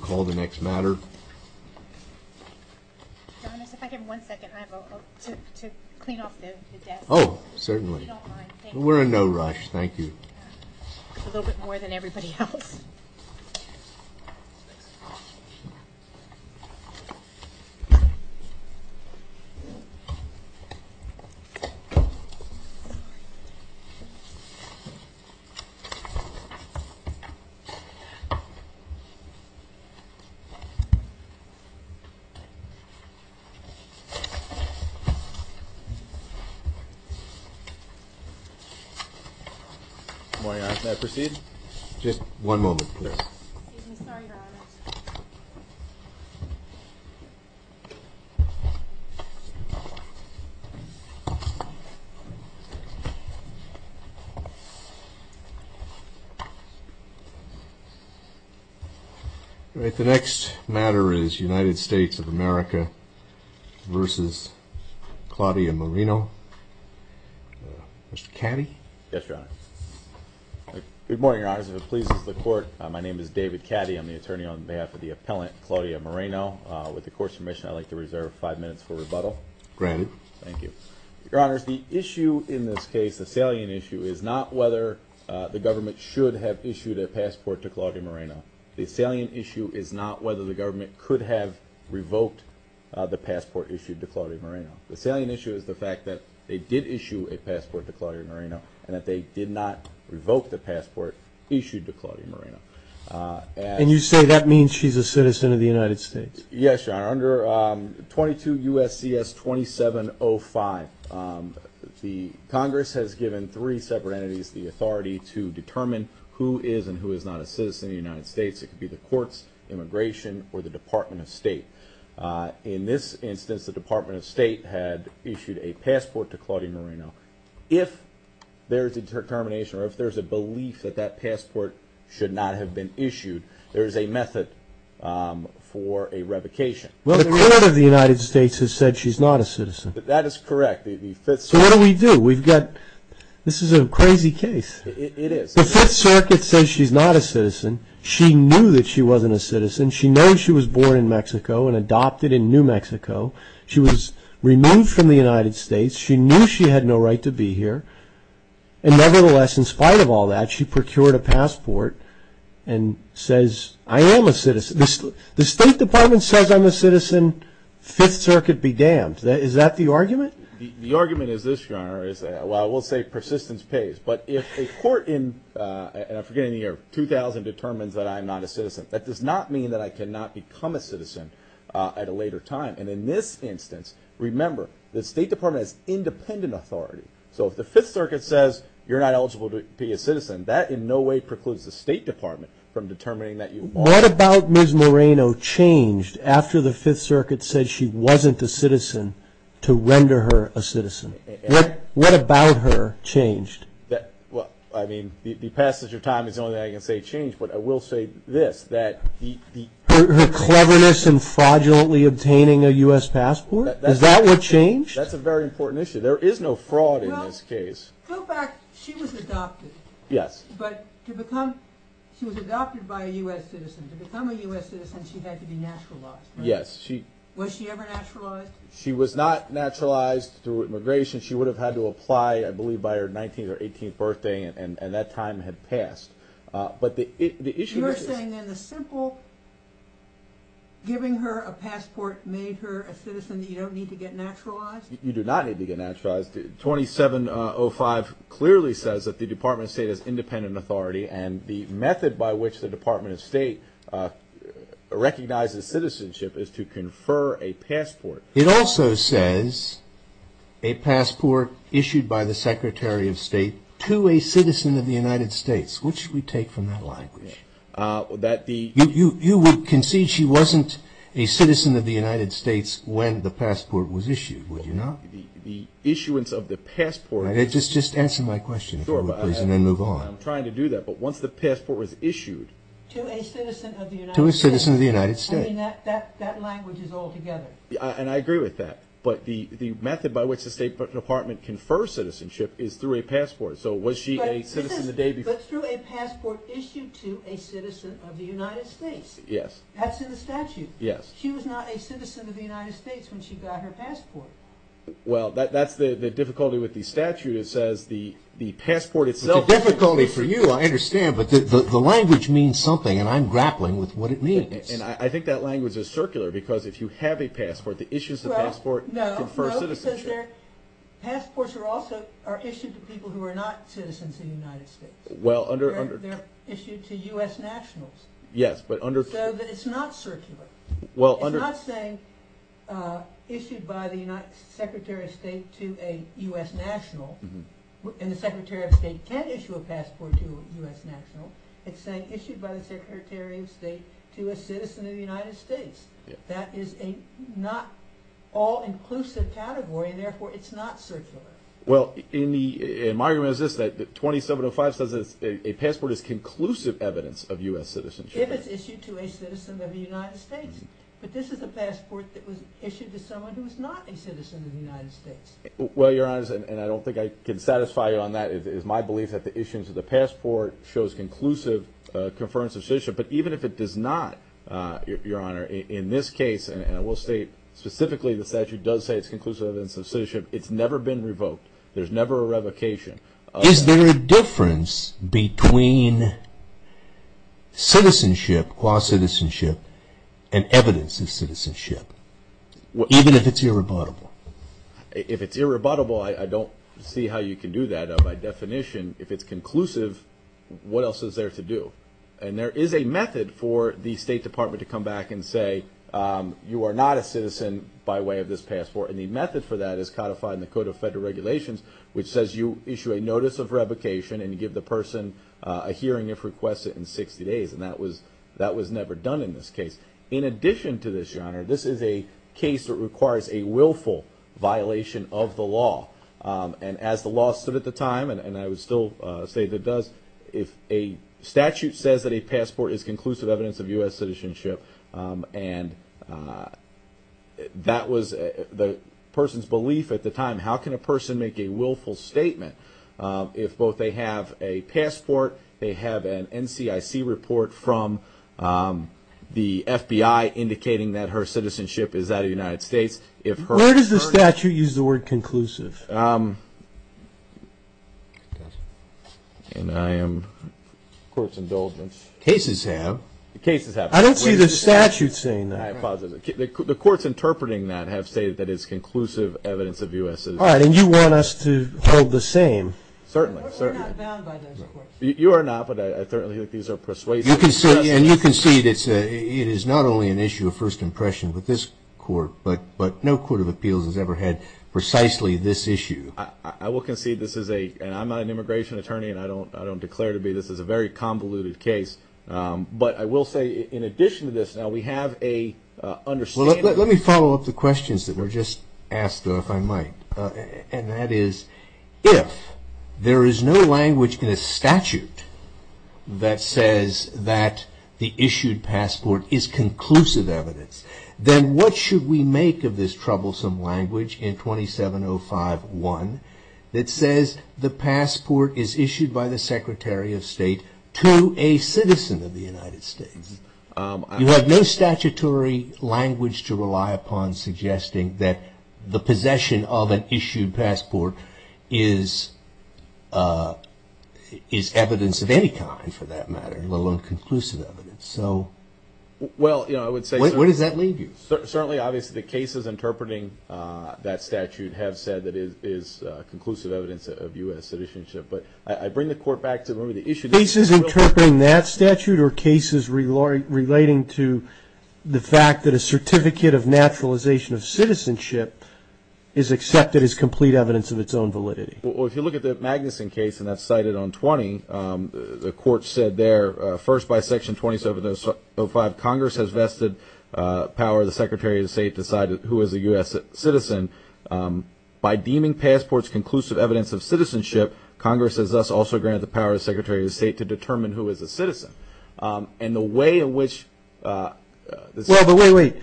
Call the next matter. Oh, certainly. We're in no rush. Thank you. A little bit more than everybody else. Why not? I proceed. Just one moment. The next matter is United States of America versus Claudia Moreno. Mr. Caddy? Yes, Your Honor. Good morning, Your Honors. If it pleases the Court, my name is David Caddy. I'm the attorney on behalf of the appellant, Claudia Moreno. With the Court's permission, I'd like to reserve five minutes for rebuttal. Granted. Thank you. Your Honors, the issue in this case, the salient issue, is not whether the government should have issued a passport to Claudia Moreno. The salient issue is not whether the government could have revoked the passport issued to Claudia Moreno. The salient issue is the fact that they did issue a passport to Claudia Moreno and that they did not revoke the passport issued to Claudia Moreno. And you say that means she's a citizen of the United States? Yes, Your Honor. Under 22 U.S.C.S. 2705, the Congress has given three separate entities the authority to determine who is and who is not a citizen of the United States. It could be the courts, immigration, or the Department of State. In this instance, the Department of State had issued a passport to Claudia Moreno. If there is a determination or if there's a belief that that passport should not have been issued, there is a method for a revocation. Well, the Court of the United States has said she's not a citizen. That is correct. So what do we do? This is a crazy case. It is. The Fifth Circuit says she's not a citizen. She knew that she wasn't a citizen. She knows she was born in Mexico and adopted in New Mexico. She was removed from the United States. She knew she had no right to be here. And nevertheless, in spite of all that, she procured a passport and says, I am a citizen. The State Department says I'm a citizen. Fifth Circuit be damned. Is that the argument? The argument is this, Your Honor. Well, I will say persistence pays. But if a court in, and I'm forgetting the year, 2000 determines that I'm not a citizen, that does not mean that I cannot become a citizen at a later time. And in this instance, remember, the State Department has independent authority. So if the Fifth Circuit says you're not eligible to be a citizen, that in no way precludes the State Department from determining that you are. What about Ms. Moreno changed after the Fifth Circuit said she wasn't a citizen to render her a citizen? What about her changed? Well, I mean, the passage of time is the only thing I can say changed. But I will say this, that the... Her cleverness and fraudulently obtaining a U.S. passport? Is that what changed? That's a very important issue. There is no fraud in this case. Go back, she was adopted. Yes. But to become, she was adopted by a U.S. citizen. To become a U.S. citizen, she had to be naturalized, right? Yes, she... Was she ever naturalized? She was not naturalized through immigration. She would have had to apply, I believe, by her 19th or 18th birthday, and that time had passed. But the issue is... You're saying then the simple giving her a passport made her a citizen that you don't need to get naturalized? You do not need to get naturalized. 2705 clearly says that the Department of State has independent authority, and the method by which the Department of State recognizes citizenship is to confer a passport. It also says, a passport issued by the Secretary of State to a citizen of the United States. What should we take from that language? That the... You would concede she wasn't a citizen of the United States when the passport was issued, would you not? The issuance of the passport... Just answer my question, if you would, please, and then move on. I'm trying to do that, but once the passport was issued... To a citizen of the United States. To a citizen of the United States. I mean, that language is altogether. And I agree with that. But the method by which the State Department confers citizenship is through a passport. So was she a citizen the day before? But through a passport issued to a citizen of the United States. Yes. That's in the statute. Yes. She was not a citizen of the United States when she got her passport. Well, that's the difficulty with the statute. It says the passport itself... It's a difficulty for you, I understand, but the language means something, and I'm grappling with what it means. And I think that language is circular, because if you have a passport, the issuance of the passport... Well, no, no, because their passports are also issued to people who are not citizens of the United States. Well, under... They're issued to U.S. nationals. Yes, but under... So that it's not circular. Well, under... It's not saying issued by the Secretary of State to a U.S. national, and the Secretary of State can't issue a passport to a U.S. national. It's saying issued by the Secretary of State to a citizen of the United States. Yes. That is a not all-inclusive category, and therefore it's not circular. Well, my argument is this, that 2705 says a passport is conclusive evidence of U.S. citizenship. If it's issued to a citizen of the United States, but this is a passport that was issued to someone who is not a citizen of the United States. Well, Your Honor, and I don't think I can satisfy you on that. It is my belief that the issuance of the passport shows conclusive conference of citizenship, but even if it does not, Your Honor, in this case, and I will state specifically the statute does say it's conclusive evidence of citizenship, it's never been revoked. There's never a revocation. Is there a difference between citizenship, quasi-citizenship, and evidence of citizenship, even if it's irrebuttable? If it's irrebuttable, I don't see how you can do that by definition. If it's conclusive, what else is there to do? And there is a method for the State Department to come back and say, you are not a citizen by way of this passport. And the method for that is codified in the Code of Federal Regulations, which says you issue a notice of revocation and give the person a hearing if requested in 60 days. And that was never done in this case. In addition to this, Your Honor, this is a case that requires a willful violation of the law. And as the law stood at the time, and I would still say that does, if a statute says that a passport is conclusive evidence of U.S. citizenship, and that was the person's belief at the time, how can a person make a willful statement if both they have a passport, they have an NCIC report from the FBI indicating that her citizenship is out of the United States, if her... Where does the statute use the word conclusive? And I am... Court's indulgence. Cases have. Cases have. I don't see the statute saying that. The courts interpreting that have stated that it's conclusive evidence of U.S. citizenship. All right. And you want us to hold the same. Certainly. You are not, but I certainly think these are persuasive. And you can see that it is not only an issue of first impression with this court, but no court of appeals has ever had precisely this issue. I will concede this is a... And I'm not an immigration attorney, and I don't declare to be. This is a very convoluted case. But I will say in addition to this, now we have a understanding... Let me follow up the questions that were just asked, if I might. And that is, if there is no language in a statute that says that the issued passport is conclusive evidence, then what should we make of this troublesome language in 2705-1 that says the passport is issued by the Secretary of State to a citizen of the United States? You have no statutory language to rely upon suggesting that the possession of an issued passport is evidence of any kind, for that matter, let alone conclusive evidence. So what does that leave you? Certainly, obviously, the cases interpreting that statute have said that it is conclusive evidence of U.S. citizenship. But I bring the court back to the issue... Cases interpreting that statute or cases relating to the fact that a Certificate of Naturalization of Citizenship is accepted as complete evidence of its own validity? Well, if you look at the Magnuson case, and that's cited on 20, the court said there, first by Section 2705, Congress has vested power of the Secretary of State to decide who is a U.S. citizen. By deeming passports conclusive evidence of citizenship, Congress has thus also granted the power of the Secretary of State to determine who is a citizen. And the way in which... Well, but wait, wait.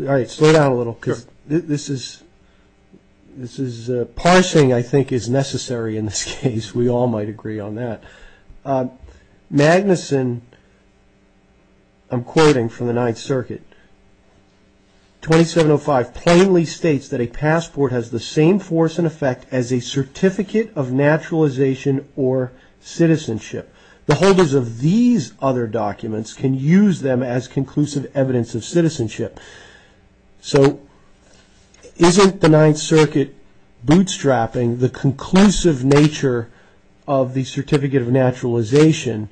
All right, slow down a little, because this is... This is... Parsing, I think, is necessary in this case. We all might agree on that. But Magnuson, I'm quoting from the Ninth Circuit, 2705, plainly states that a passport has the same force and effect as a Certificate of Naturalization or Citizenship. The holders of these other documents can use them as conclusive evidence of citizenship. So isn't the Ninth Circuit bootstrapping the conclusive nature of the Certificate of Naturalization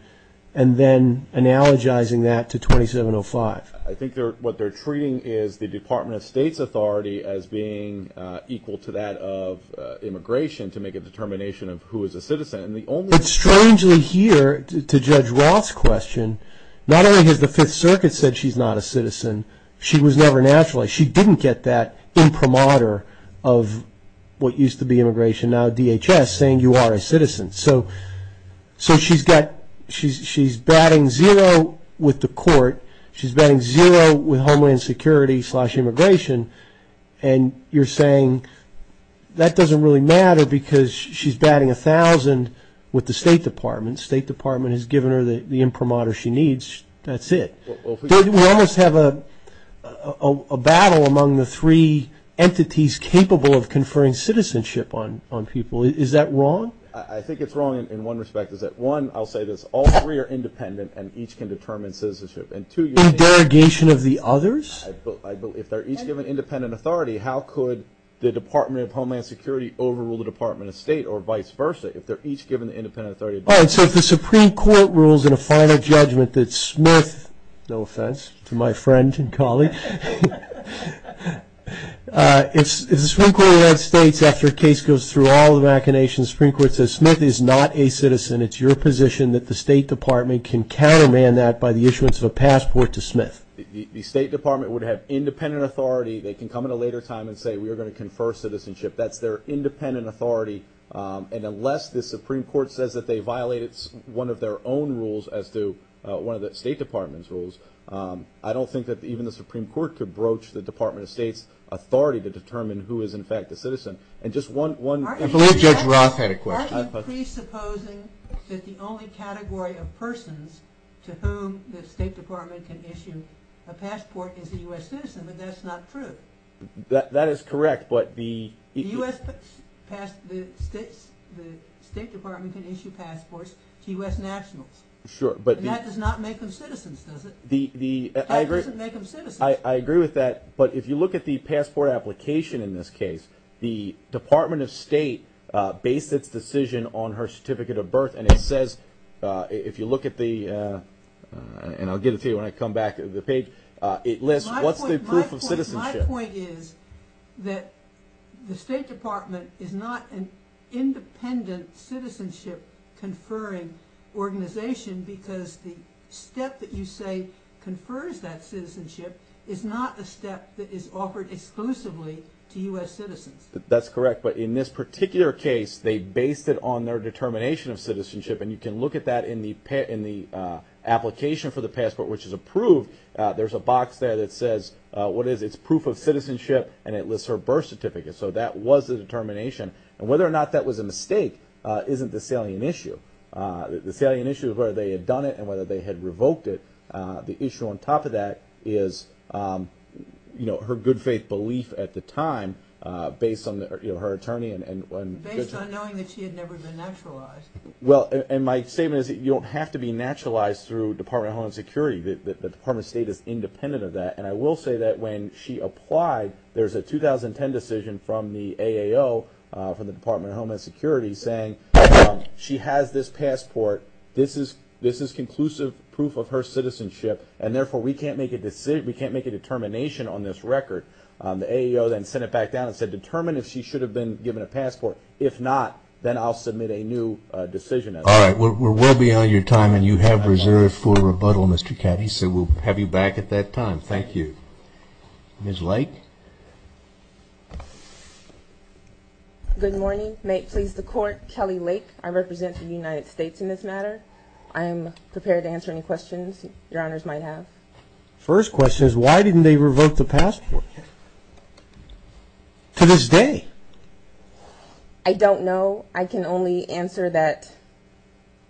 and then analogizing that to 2705? I think what they're treating is the Department of State's authority as being equal to that of immigration to make a determination of who is a citizen. And the only... It's strangely here, to Judge Roth's question, not only has the Fifth Circuit said she's not a citizen, she was never naturalized. She didn't get that imprimatur of what used to be immigration, now DHS, saying you are a citizen. So she's batting zero with the court. She's batting zero with Homeland Security slash immigration. And you're saying that doesn't really matter because she's batting 1,000 with the State Department. State Department has given her the imprimatur she needs. That's it. We almost have a battle among the three entities capable of conferring citizenship on people. Is that wrong? I think it's wrong in one respect, is that one, I'll say this, all three are independent and each can determine citizenship. And two... In derogation of the others? If they're each given independent authority, how could the Department of Homeland Security overrule the Department of State or vice versa? If they're each given the independent authority... All right, so if the Supreme Court rules in a final judgment that Smith, no offense to my friend and colleague, if the Supreme Court of the United States, after a case goes through all the machinations, the Supreme Court says, Smith is not a citizen. It's your position that the State Department can counterman that by the issuance of a passport to Smith. The State Department would have independent authority. They can come at a later time and say, we are going to confer citizenship. That's their independent authority. And unless the Supreme Court says that they violate one of their own rules as to one of the State Department's rules, I don't think that even the Supreme Court could broach the Department of State's authority to determine who is in fact a citizen. And just one... I believe Judge Roth had a question. Aren't you presupposing that the only category of persons to whom the State Department can issue a passport is a U.S. citizen? But that's not true. That is correct, but the... The State Department can issue passports to U.S. nationals. Sure, but... That does not make them citizens, does it? That doesn't make them citizens. I agree with that. But if you look at the passport application in this case, the Department of State based its decision on her certificate of birth. And it says, if you look at the... And I'll get it to you when I come back to the page. What's the proof of citizenship? My point is that the State Department is not an independent citizenship conferring organization because the step that you say confers that citizenship is not a step that is offered exclusively to U.S. citizens. That's correct. But in this particular case, they based it on their determination of citizenship. And you can look at that in the application for the passport, which is approved. There's a box there that says... What is it? It's proof of citizenship, and it lists her birth certificate. So that was the determination. And whether or not that was a mistake isn't the salient issue. The salient issue is whether they had done it and whether they had revoked it. The issue on top of that is her good faith belief at the time based on her attorney and... Based on knowing that she had never been naturalized. Well, and my statement is that you don't have to be naturalized through Department of Homeland Security. The Department of State is independent of that. And I will say that when she applied, there's a 2010 decision from the AAO, from the Department of Homeland Security, saying she has this passport. This is conclusive proof of her citizenship. And therefore, we can't make a determination on this record. The AAO then sent it back down and said, determine if she should have been given a passport. If not, then I'll submit a new decision. All right. We're well beyond your time, and you have reserved for rebuttal, Mr. Caddy. So we'll have you back at that time. Thank you. Ms. Lake? Good morning. May it please the Court, Kelly Lake. I represent the United States in this matter. I am prepared to answer any questions Your Honors might have. First question is, why didn't they revoke the passport? To this day? I don't know. I can only answer that...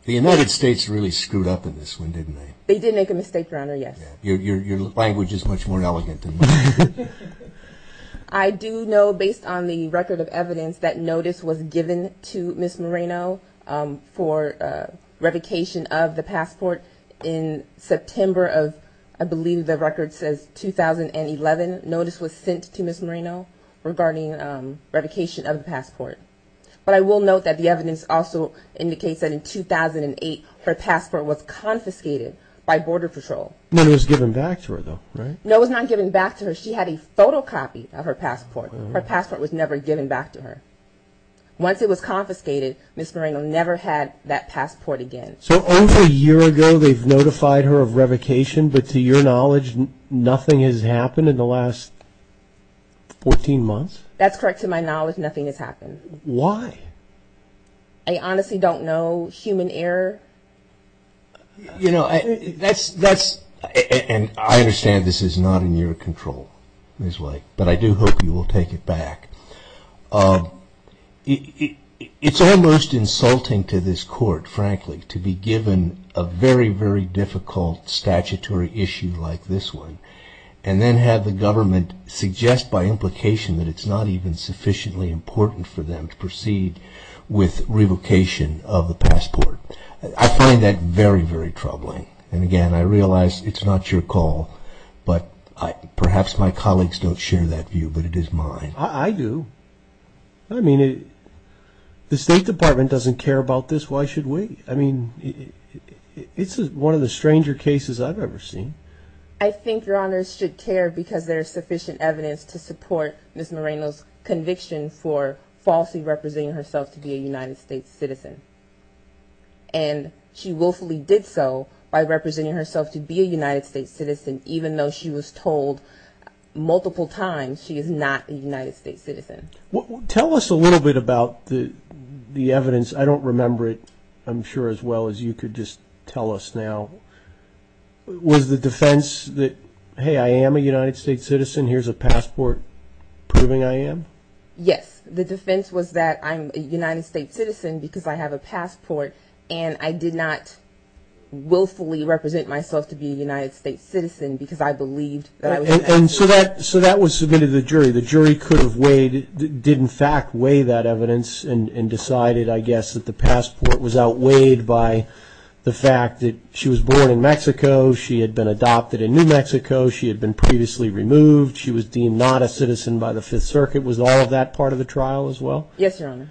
The United States really screwed up in this one, didn't they? They did make a mistake, Your Honor, yes. Your language is much more elegant than mine. I do know, based on the record of evidence, that notice was given to Ms. Moreno for revocation of the passport in September of, I believe the record says, 2011. Notice was sent to Ms. Moreno regarding revocation of the passport. But I will note that the evidence also indicates that in 2008, her passport was confiscated by Border Patrol. It was given back to her, though, right? No, it was not given back to her. She had a photocopy of her passport. Her passport was never given back to her. Once it was confiscated, Ms. Moreno never had that passport again. So over a year ago, they've notified her of revocation, but to your knowledge, nothing has happened in the last 14 months? That's correct. To my knowledge, nothing has happened. Why? I honestly don't know. Human error. You know, that's, and I understand this is not in your control, Ms. White, but I do hope you will take it back. It's almost insulting to this court, frankly, to be given a very, very difficult statutory issue like this one, and then have the government suggest by implication that it's not even sufficiently important for them to proceed with revocation of the passport. I find that very, very troubling. And again, I realize it's not your call, but perhaps my colleagues don't share that view, but it is mine. I do. I mean, the State Department doesn't care about this. Why should we? I mean, it's one of the stranger cases I've ever seen. I think Your Honors should care because there's sufficient evidence to support Ms. Moreno's conviction for falsely representing herself to be a United States citizen. And she willfully did so by representing herself to be a United States citizen, even though she was told multiple times she is not a United States citizen. Tell us a little bit about the evidence. I don't remember it, I'm sure, as well as you could just tell us now. Was the defense that, hey, I am a United States citizen, here's a passport proving I am? Yes. The defense was that I'm a United States citizen because I have a passport, and I did not willfully represent myself to be a United States citizen because I believed that I was a United States citizen. So that was submitted to the jury. The jury could have weighed, did in fact weigh that evidence and decided, I guess, that the passport was outweighed by the fact that she was born in Mexico, she had been adopted in New Mexico, she had been previously removed, she was deemed not a citizen by the Fifth Circuit. Was all of that part of the trial as well? Yes, Your Honor.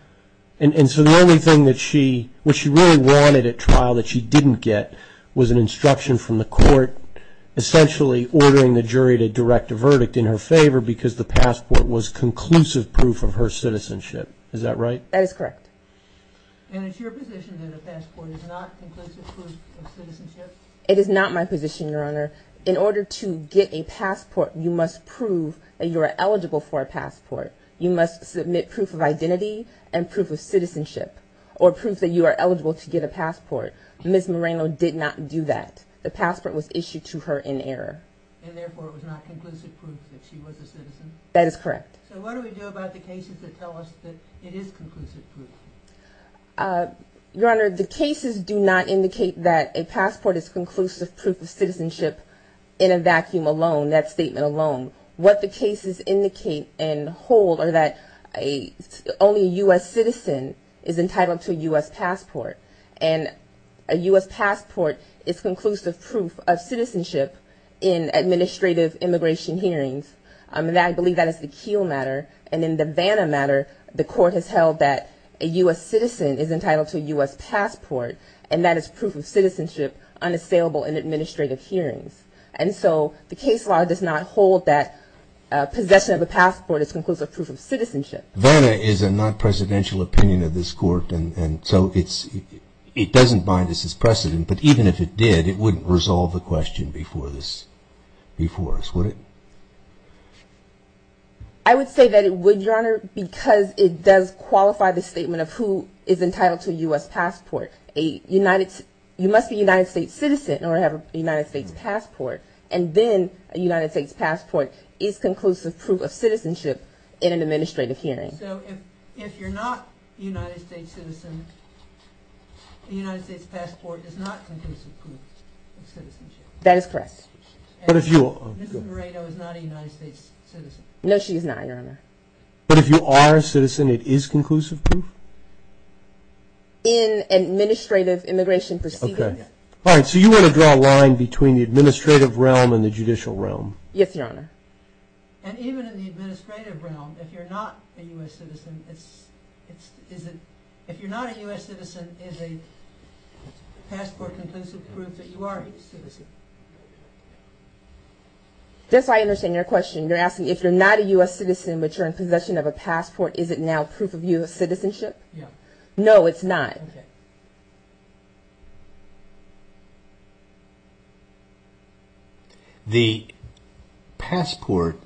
And so the only thing that she, what she really wanted at trial that she didn't get was an instruction from the court essentially ordering the jury to direct a verdict in her favor because the passport was conclusive proof of her citizenship. Is that right? That is correct. And it's your position that a passport is not conclusive proof of citizenship? It is not my position, Your Honor. In order to get a passport, you must prove that you are eligible for a passport. You must submit proof of identity and proof of citizenship or proof that you are eligible to get a passport. Ms. Moreno did not do that. The passport was issued to her in error. And therefore, it was not conclusive proof that she was a citizen? That is correct. So what do we do about the cases that tell us that it is conclusive proof? Your Honor, the cases do not indicate that a passport is conclusive proof of citizenship in a vacuum alone, that statement alone. What the cases indicate and hold are that only a U.S. citizen is entitled to a U.S. passport. And a U.S. passport is conclusive proof of citizenship in administrative immigration hearings. And I believe that is the Keele matter. And in the Vanna matter, the court has held that a U.S. citizen is entitled to a U.S. passport. And that is proof of citizenship unassailable in administrative hearings. And so the case law does not hold that possession of a passport is conclusive proof of citizenship. Vanna is a non-presidential opinion of this court. And so it doesn't bind us as precedent. But even if it did, it wouldn't resolve the question before us, would it? I would say that it would, Your Honor, because it does qualify the statement of who is entitled to a U.S. passport. You must be a United States citizen or have a United States passport. And then a United States passport is conclusive proof of citizenship in an administrative hearing. So if you're not a United States citizen, a United States passport is not conclusive proof of citizenship. That is correct. But if you are a citizen, it is conclusive proof? In administrative immigration proceedings. All right. So you want to draw a line between the administrative realm and the judicial realm? Yes, Your Honor. And even in the administrative realm, if you're not a U.S. citizen, it's, it's, is it, if you're not a U.S. citizen, is a passport conclusive proof that you are a citizen? That's why I understand your question. You're asking if you're not a U.S. citizen, but you're in possession of a passport, is it now proof of U.S. citizenship? No, it's not. The passport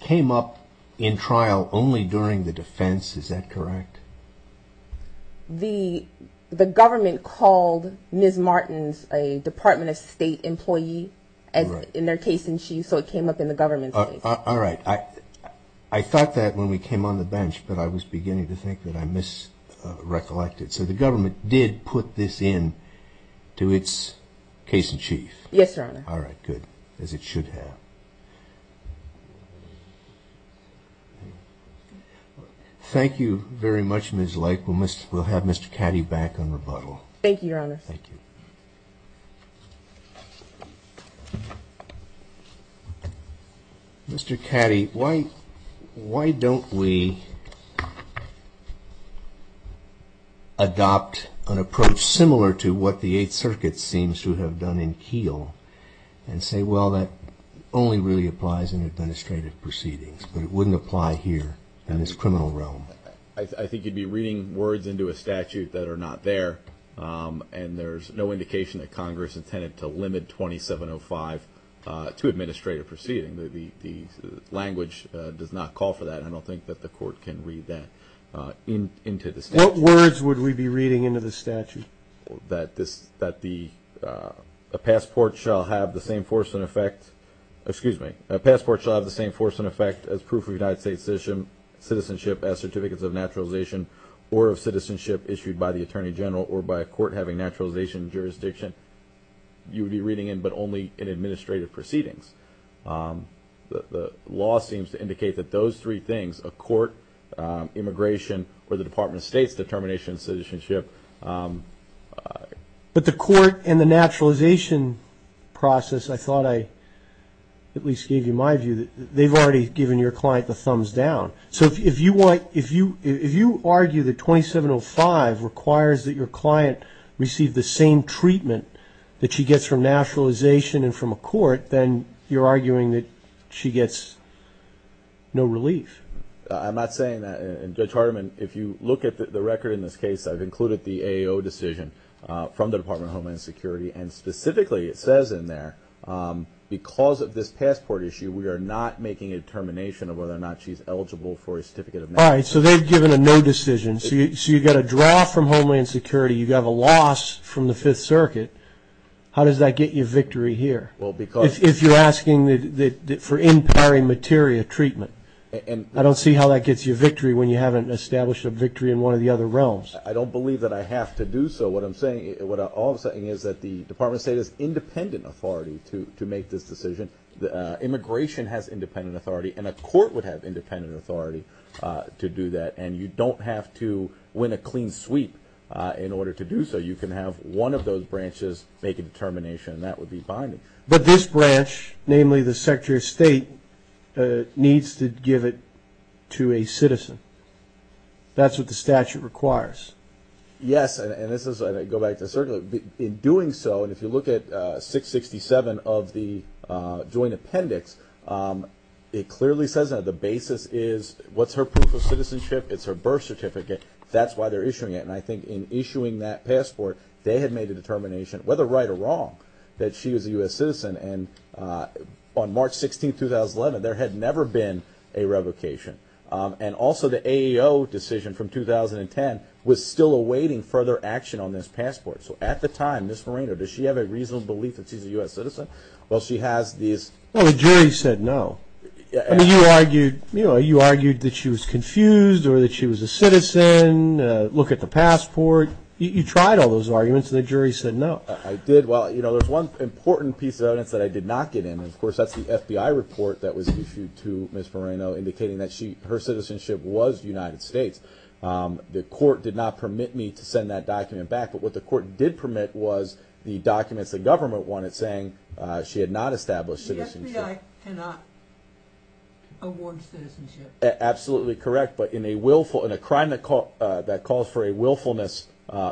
came up in trial only during the defense. Is that correct? The, the government called Ms. Martins a Department of State employee as in their case in chief. So it came up in the government's case. All right. I, I thought that when we came on the bench, but I was beginning to think that I misrecollected. So the government did put this in to its case in chief? Yes, Your Honor. All right, good. As it should have. Thank you very much, Ms. Lake. We'll, we'll have Mr. Caddy back on rebuttal. Thank you, Your Honor. Thank you. Mr. Caddy, why, why don't we adopt an approach similar to what the Eighth Circuit seems to have done in Keele and say, well, that only applies to U.S. citizens. It only really applies in administrative proceedings, but it wouldn't apply here in this criminal realm. I think you'd be reading words into a statute that are not there. And there's no indication that Congress intended to limit 2705 to administrative proceedings. The language does not call for that. I don't think that the court can read that into the statute. What words would we be reading into the statute? That this, that the passport shall have the same force and effect. Excuse me. Passport shall have the same force and effect as proof of United States citizenship as certificates of naturalization or of citizenship issued by the Attorney General or by a court having naturalization jurisdiction. You would be reading it, but only in administrative proceedings. The law seems to indicate that those three things, a court, immigration, or the Department of State's determination of citizenship. But the court and the naturalization process, I thought I at least gave you my view, that they've already given your client the thumbs down. So if you want, if you, if you argue that 2705 requires that your client receive the same treatment that she gets from naturalization and from a court, then you're arguing that she gets no relief. I'm not saying that, and Judge Hartiman, if you look at the record in this case, I've included the AO decision from the Department of Homeland Security. And specifically, it says in there, because of this passport issue, we are not making a determination of whether or not she's eligible for a certificate of naturalization. All right. So they've given a no decision. So you, so you got a draw from Homeland Security. You got a loss from the Fifth Circuit. How does that get you victory here? Well, because. If you're asking for in pari materia treatment. And I don't see how that gets you victory when you haven't established a victory in one of the other realms. I don't believe that I have to do so. What I'm saying, what I'm saying is that the Department of State is independent authority to make this decision. Immigration has independent authority, and a court would have independent authority to do that. And you don't have to win a clean sweep in order to do so. You can have one of those branches make a determination, and that would be binding. But this branch, namely the Secretary of State, needs to give it to a citizen. That's what the statute requires. Yes, and this is, I go back to certainly, in doing so, and if you look at 667 of the joint appendix, it clearly says that the basis is, what's her proof of citizenship? It's her birth certificate. That's why they're issuing it. And I think in issuing that passport, they had made a determination, whether right or wrong, that she was a U.S. citizen. And on March 16, 2011, there had never been a revocation. And also, the AAO decision from 2010 was still awaiting further action on this passport. So at the time, Ms. Moreno, does she have a reasonable belief that she's a U.S. citizen? Well, she has these... No, the jury said no. I mean, you argued that she was confused or that she was a citizen. Look at the passport. You tried all those arguments, and the jury said no. I did. Well, there's one important piece of evidence that I did not get in. And of course, that's the FBI report that was issued to Ms. Moreno, indicating that her citizenship was United States. The court did not permit me to send that document back. But what the court did permit was the documents the government wanted, saying she had not established citizenship. The FBI cannot award citizenship. Absolutely correct. But in a willful... In a crime that calls for a willfulness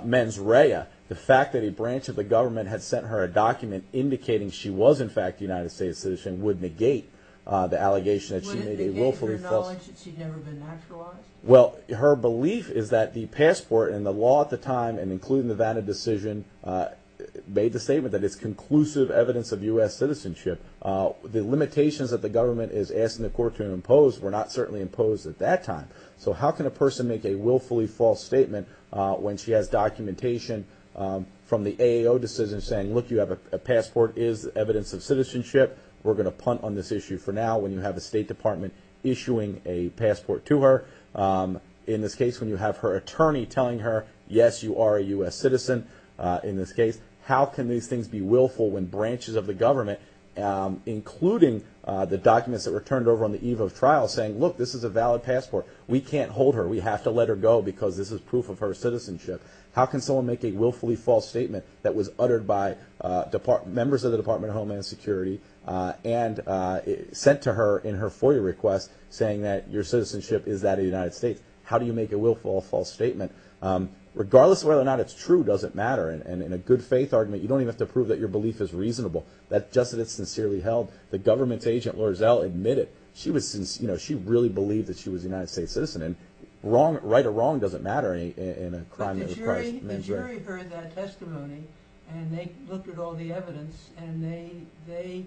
mens rea, the fact that a branch of the government had sent her a document indicating she was, in fact, a United States citizen would negate the allegation that she made a willfully false... Allegiance that she'd never been naturalized? Well, her belief is that the passport and the law at the time, and including the Vanna decision, made the statement that it's conclusive evidence of U.S. citizenship. The limitations that the government is asking the court to impose were not certainly imposed at that time. So how can a person make a willfully false statement when she has documentation from the AAO decision saying, look, you have a passport, is evidence of citizenship, we're issuing a passport to her. In this case, when you have her attorney telling her, yes, you are a U.S. citizen in this case, how can these things be willful when branches of the government, including the documents that were turned over on the eve of trial, saying, look, this is a valid passport. We can't hold her. We have to let her go because this is proof of her citizenship. How can someone make a willfully false statement that was uttered by members of the Department of Homeland Security and sent to her in her FOIA request saying that your citizenship is that of the United States? How do you make a willful false statement? Regardless of whether or not it's true doesn't matter. And in a good faith argument, you don't even have to prove that your belief is reasonable. That's just that it's sincerely held. The government's agent, Laura Zell, admitted she was, you know, she really believed that she was a United States citizen. And wrong, right or wrong doesn't matter in a crime. The jury heard that testimony and they looked at all the evidence and they they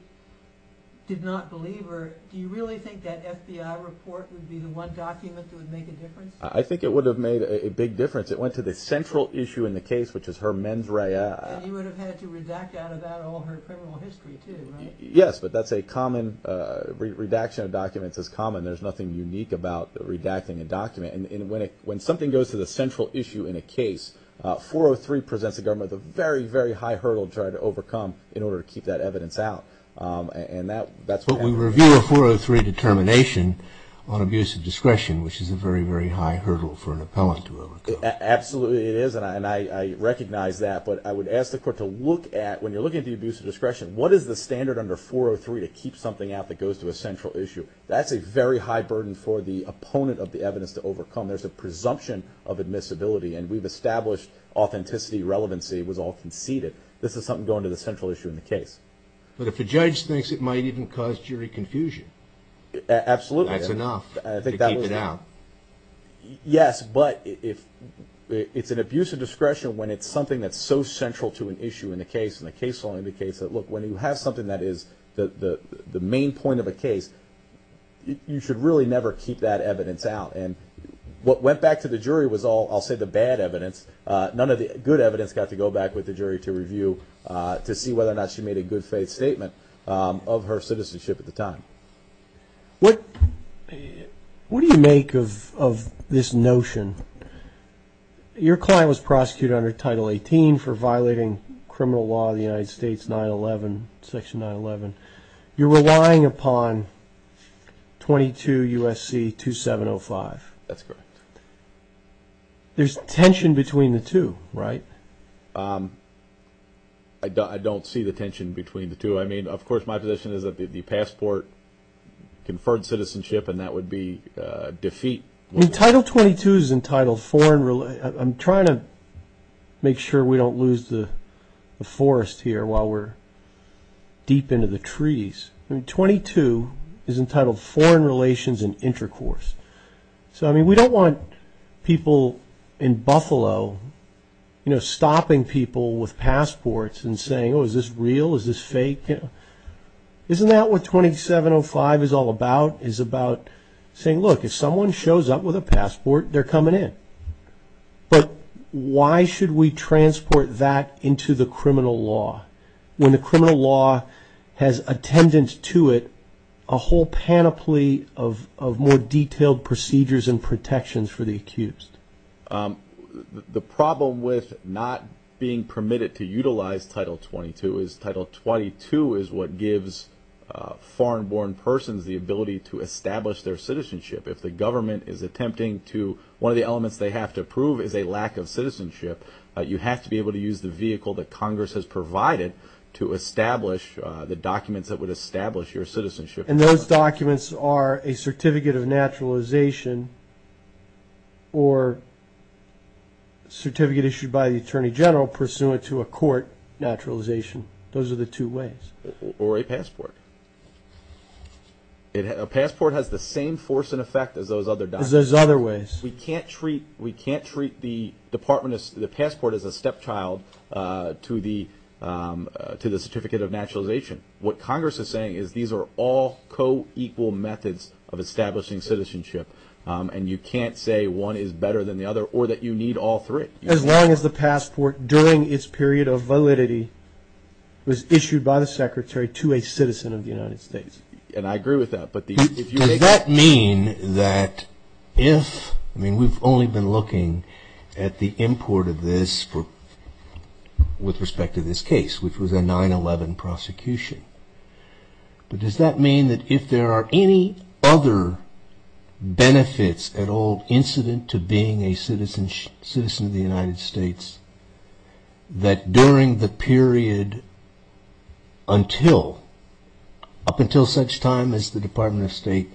did not believe her. Do you really think that FBI report would be the one document that would make a difference? I think it would have made a big difference. It went to the central issue in the case, which is her mens rea. And you would have had to redact out of that all her criminal history, too, right? Yes, but that's a common redaction of documents is common. There's nothing unique about redacting a document. When something goes to the central issue in a case, 403 presents a government with a very, very high hurdle to try to overcome in order to keep that evidence out. And that's what we review a 403 determination on abuse of discretion, which is a very, very high hurdle for an appellant to absolutely is. And I recognize that. But I would ask the court to look at when you're looking at the abuse of discretion, what is the standard under 403 to keep something out that goes to a central issue? That's a very high burden for the opponent of the evidence to overcome. There's a presumption of admissibility. And we've established authenticity. Relevancy was all conceded. This is something going to the central issue in the case. But if a judge thinks it might even cause jury confusion. Absolutely. That's enough. I think that was it. Now, yes, but if it's an abuse of discretion, when it's something that's so central to an issue in the case and the case law indicates that, look, when you have something that is the main point of a case, you should really never keep that evidence out. And what went back to the jury was all, I'll say, the bad evidence. None of the good evidence got to go back with the jury to review to see whether or not she made a good faith statement of her citizenship at the time. What do you make of this notion? Your client was prosecuted under Title 18 for violating criminal law of the United States, Section 911. You're relying upon 22 U.S.C. 2705. That's correct. There's tension between the two, right? I don't see the tension between the two. I mean, of course, my position is that the passport, conferred citizenship, and that would be defeat. I mean, Title 22 is entitled foreign. I'm trying to make sure we don't lose the forest here while we're deep into the trees. I mean, 22 is entitled foreign relations and intercourse. So, I mean, we don't want people in Buffalo, you know, stopping people with passports and saying, oh, is this real? Is this fake? Isn't that what 2705 is all about? It's about saying, look, if someone shows up with a passport, they're coming in. But why should we transport that into the criminal law when the criminal law has attendance to it, a whole panoply of more detailed procedures and protections for the accused? The problem with not being permitted to utilize Title 22 is Title 22 is what gives foreign-born persons the ability to establish their citizenship. If the government is attempting to, one of the elements they have to prove is a lack of citizenship, you have to be able to use the vehicle that Congress has provided to establish the documents that would establish your citizenship. And those documents are a certificate of naturalization or certificate issued by the Attorney General pursuant to a court naturalization. Those are the two ways. Or a passport. A passport has the same force and effect as those other documents. As those other ways. We can't treat the passport as a stepchild to the certificate of naturalization. What Congress is saying is these are all co-equal methods of establishing citizenship. And you can't say one is better than the other or that you need all three. As long as the passport during its period of validity was issued by the Secretary to a citizen of the United States. And I agree with that. But does that mean that if, I mean, we've only been looking at the import of this with respect to this case, which was a 9-11 prosecution. But does that mean that if there are any other benefits at all incident to being a United States, that during the period until, up until such time as the Department of State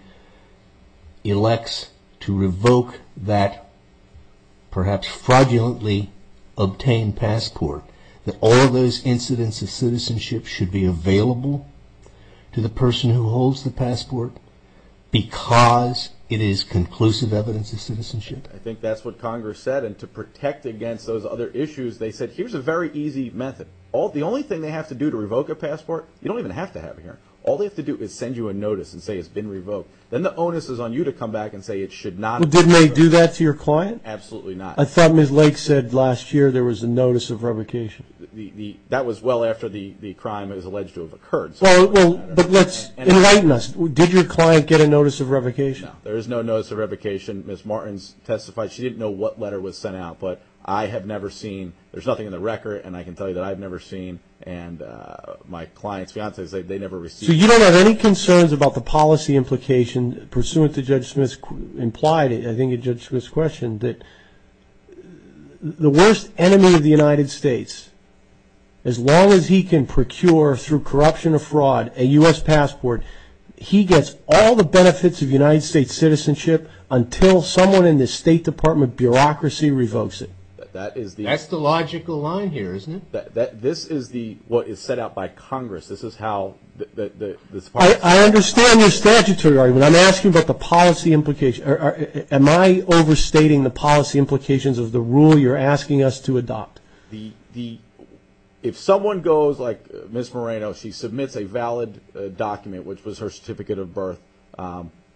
elects to revoke that perhaps fraudulently obtained passport, that all of those incidents of citizenship should be available to the person who holds the passport because it is conclusive evidence of citizenship? I think that's what Congress said. And to protect against those other issues, they said, here's a very easy method. All the only thing they have to do to revoke a passport. You don't even have to have it here. All they have to do is send you a notice and say, it's been revoked. Then the onus is on you to come back and say, it should not. Didn't they do that to your client? Absolutely not. I thought Ms. Lake said last year there was a notice of revocation. That was well after the crime is alleged to have occurred. So let's enlighten us. Did your client get a notice of revocation? There is no notice of revocation. Ms. Martins testified she didn't know what letter was sent out. But I have never seen. There's nothing in the record. And I can tell you that I've never seen. And my client's fiance, they never received. So you don't have any concerns about the policy implication pursuant to Judge Smith's implied, I think it's Judge Smith's question, that the worst enemy of the United States, as long as he can procure through corruption or fraud a U.S. passport, he gets all the benefits of United States citizenship until someone in the State Department bureaucracy revokes it. That's the logical line here, isn't it? This is what is set out by Congress. I understand your statutory argument. I'm asking about the policy implication. Am I overstating the policy implications of the rule you're asking us to adopt? If someone goes like Ms. Moreno, she submits a valid document, which was her certificate of birth,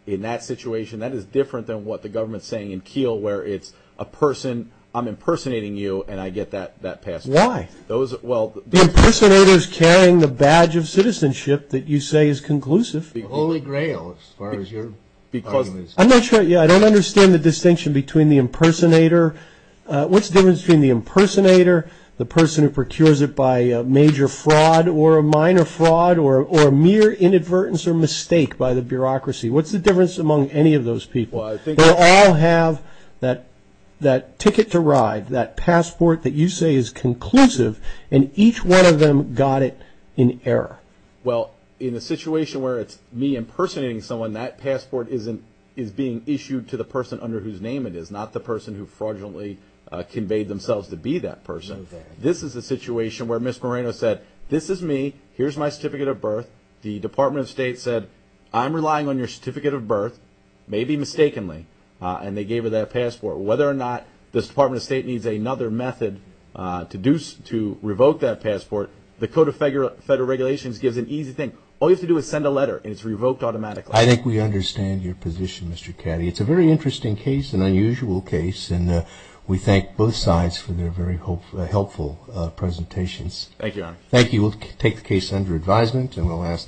in that situation, that is different than what the government's saying in Keele, where it's a person, I'm impersonating you, and I get that passport. Why? The impersonator is carrying the badge of citizenship that you say is conclusive. Holy grail, as far as your argument is concerned. I'm not sure. I don't understand the distinction between the impersonator. What's the difference between the impersonator, the person who procures it by a major fraud, or a minor fraud, or a mere inadvertence or mistake by the bureaucracy? What's the difference among any of those people? They all have that ticket to ride, that passport that you say is conclusive, and each one of them got it in error. Well, in a situation where it's me impersonating someone, that passport is being issued to the person under whose name it is, not the person who fraudulently conveyed themselves to be that person. This is a situation where Ms. Moreno said, this is me, here's my certificate of birth. The Department of State said, I'm relying on your certificate of birth, maybe mistakenly, and they gave her that passport. Whether or not this Department of State needs another method to revoke that passport, the Code of Federal Regulations gives an easy thing. All you have to do is send a letter, and it's revoked automatically. I think we understand your position, Mr. Caddy. It's a very interesting case, an unusual case, and we thank both sides for their very helpful presentations. Thank you, Your Honor. Thank you. We'll take the case under advisement, and we'll ask...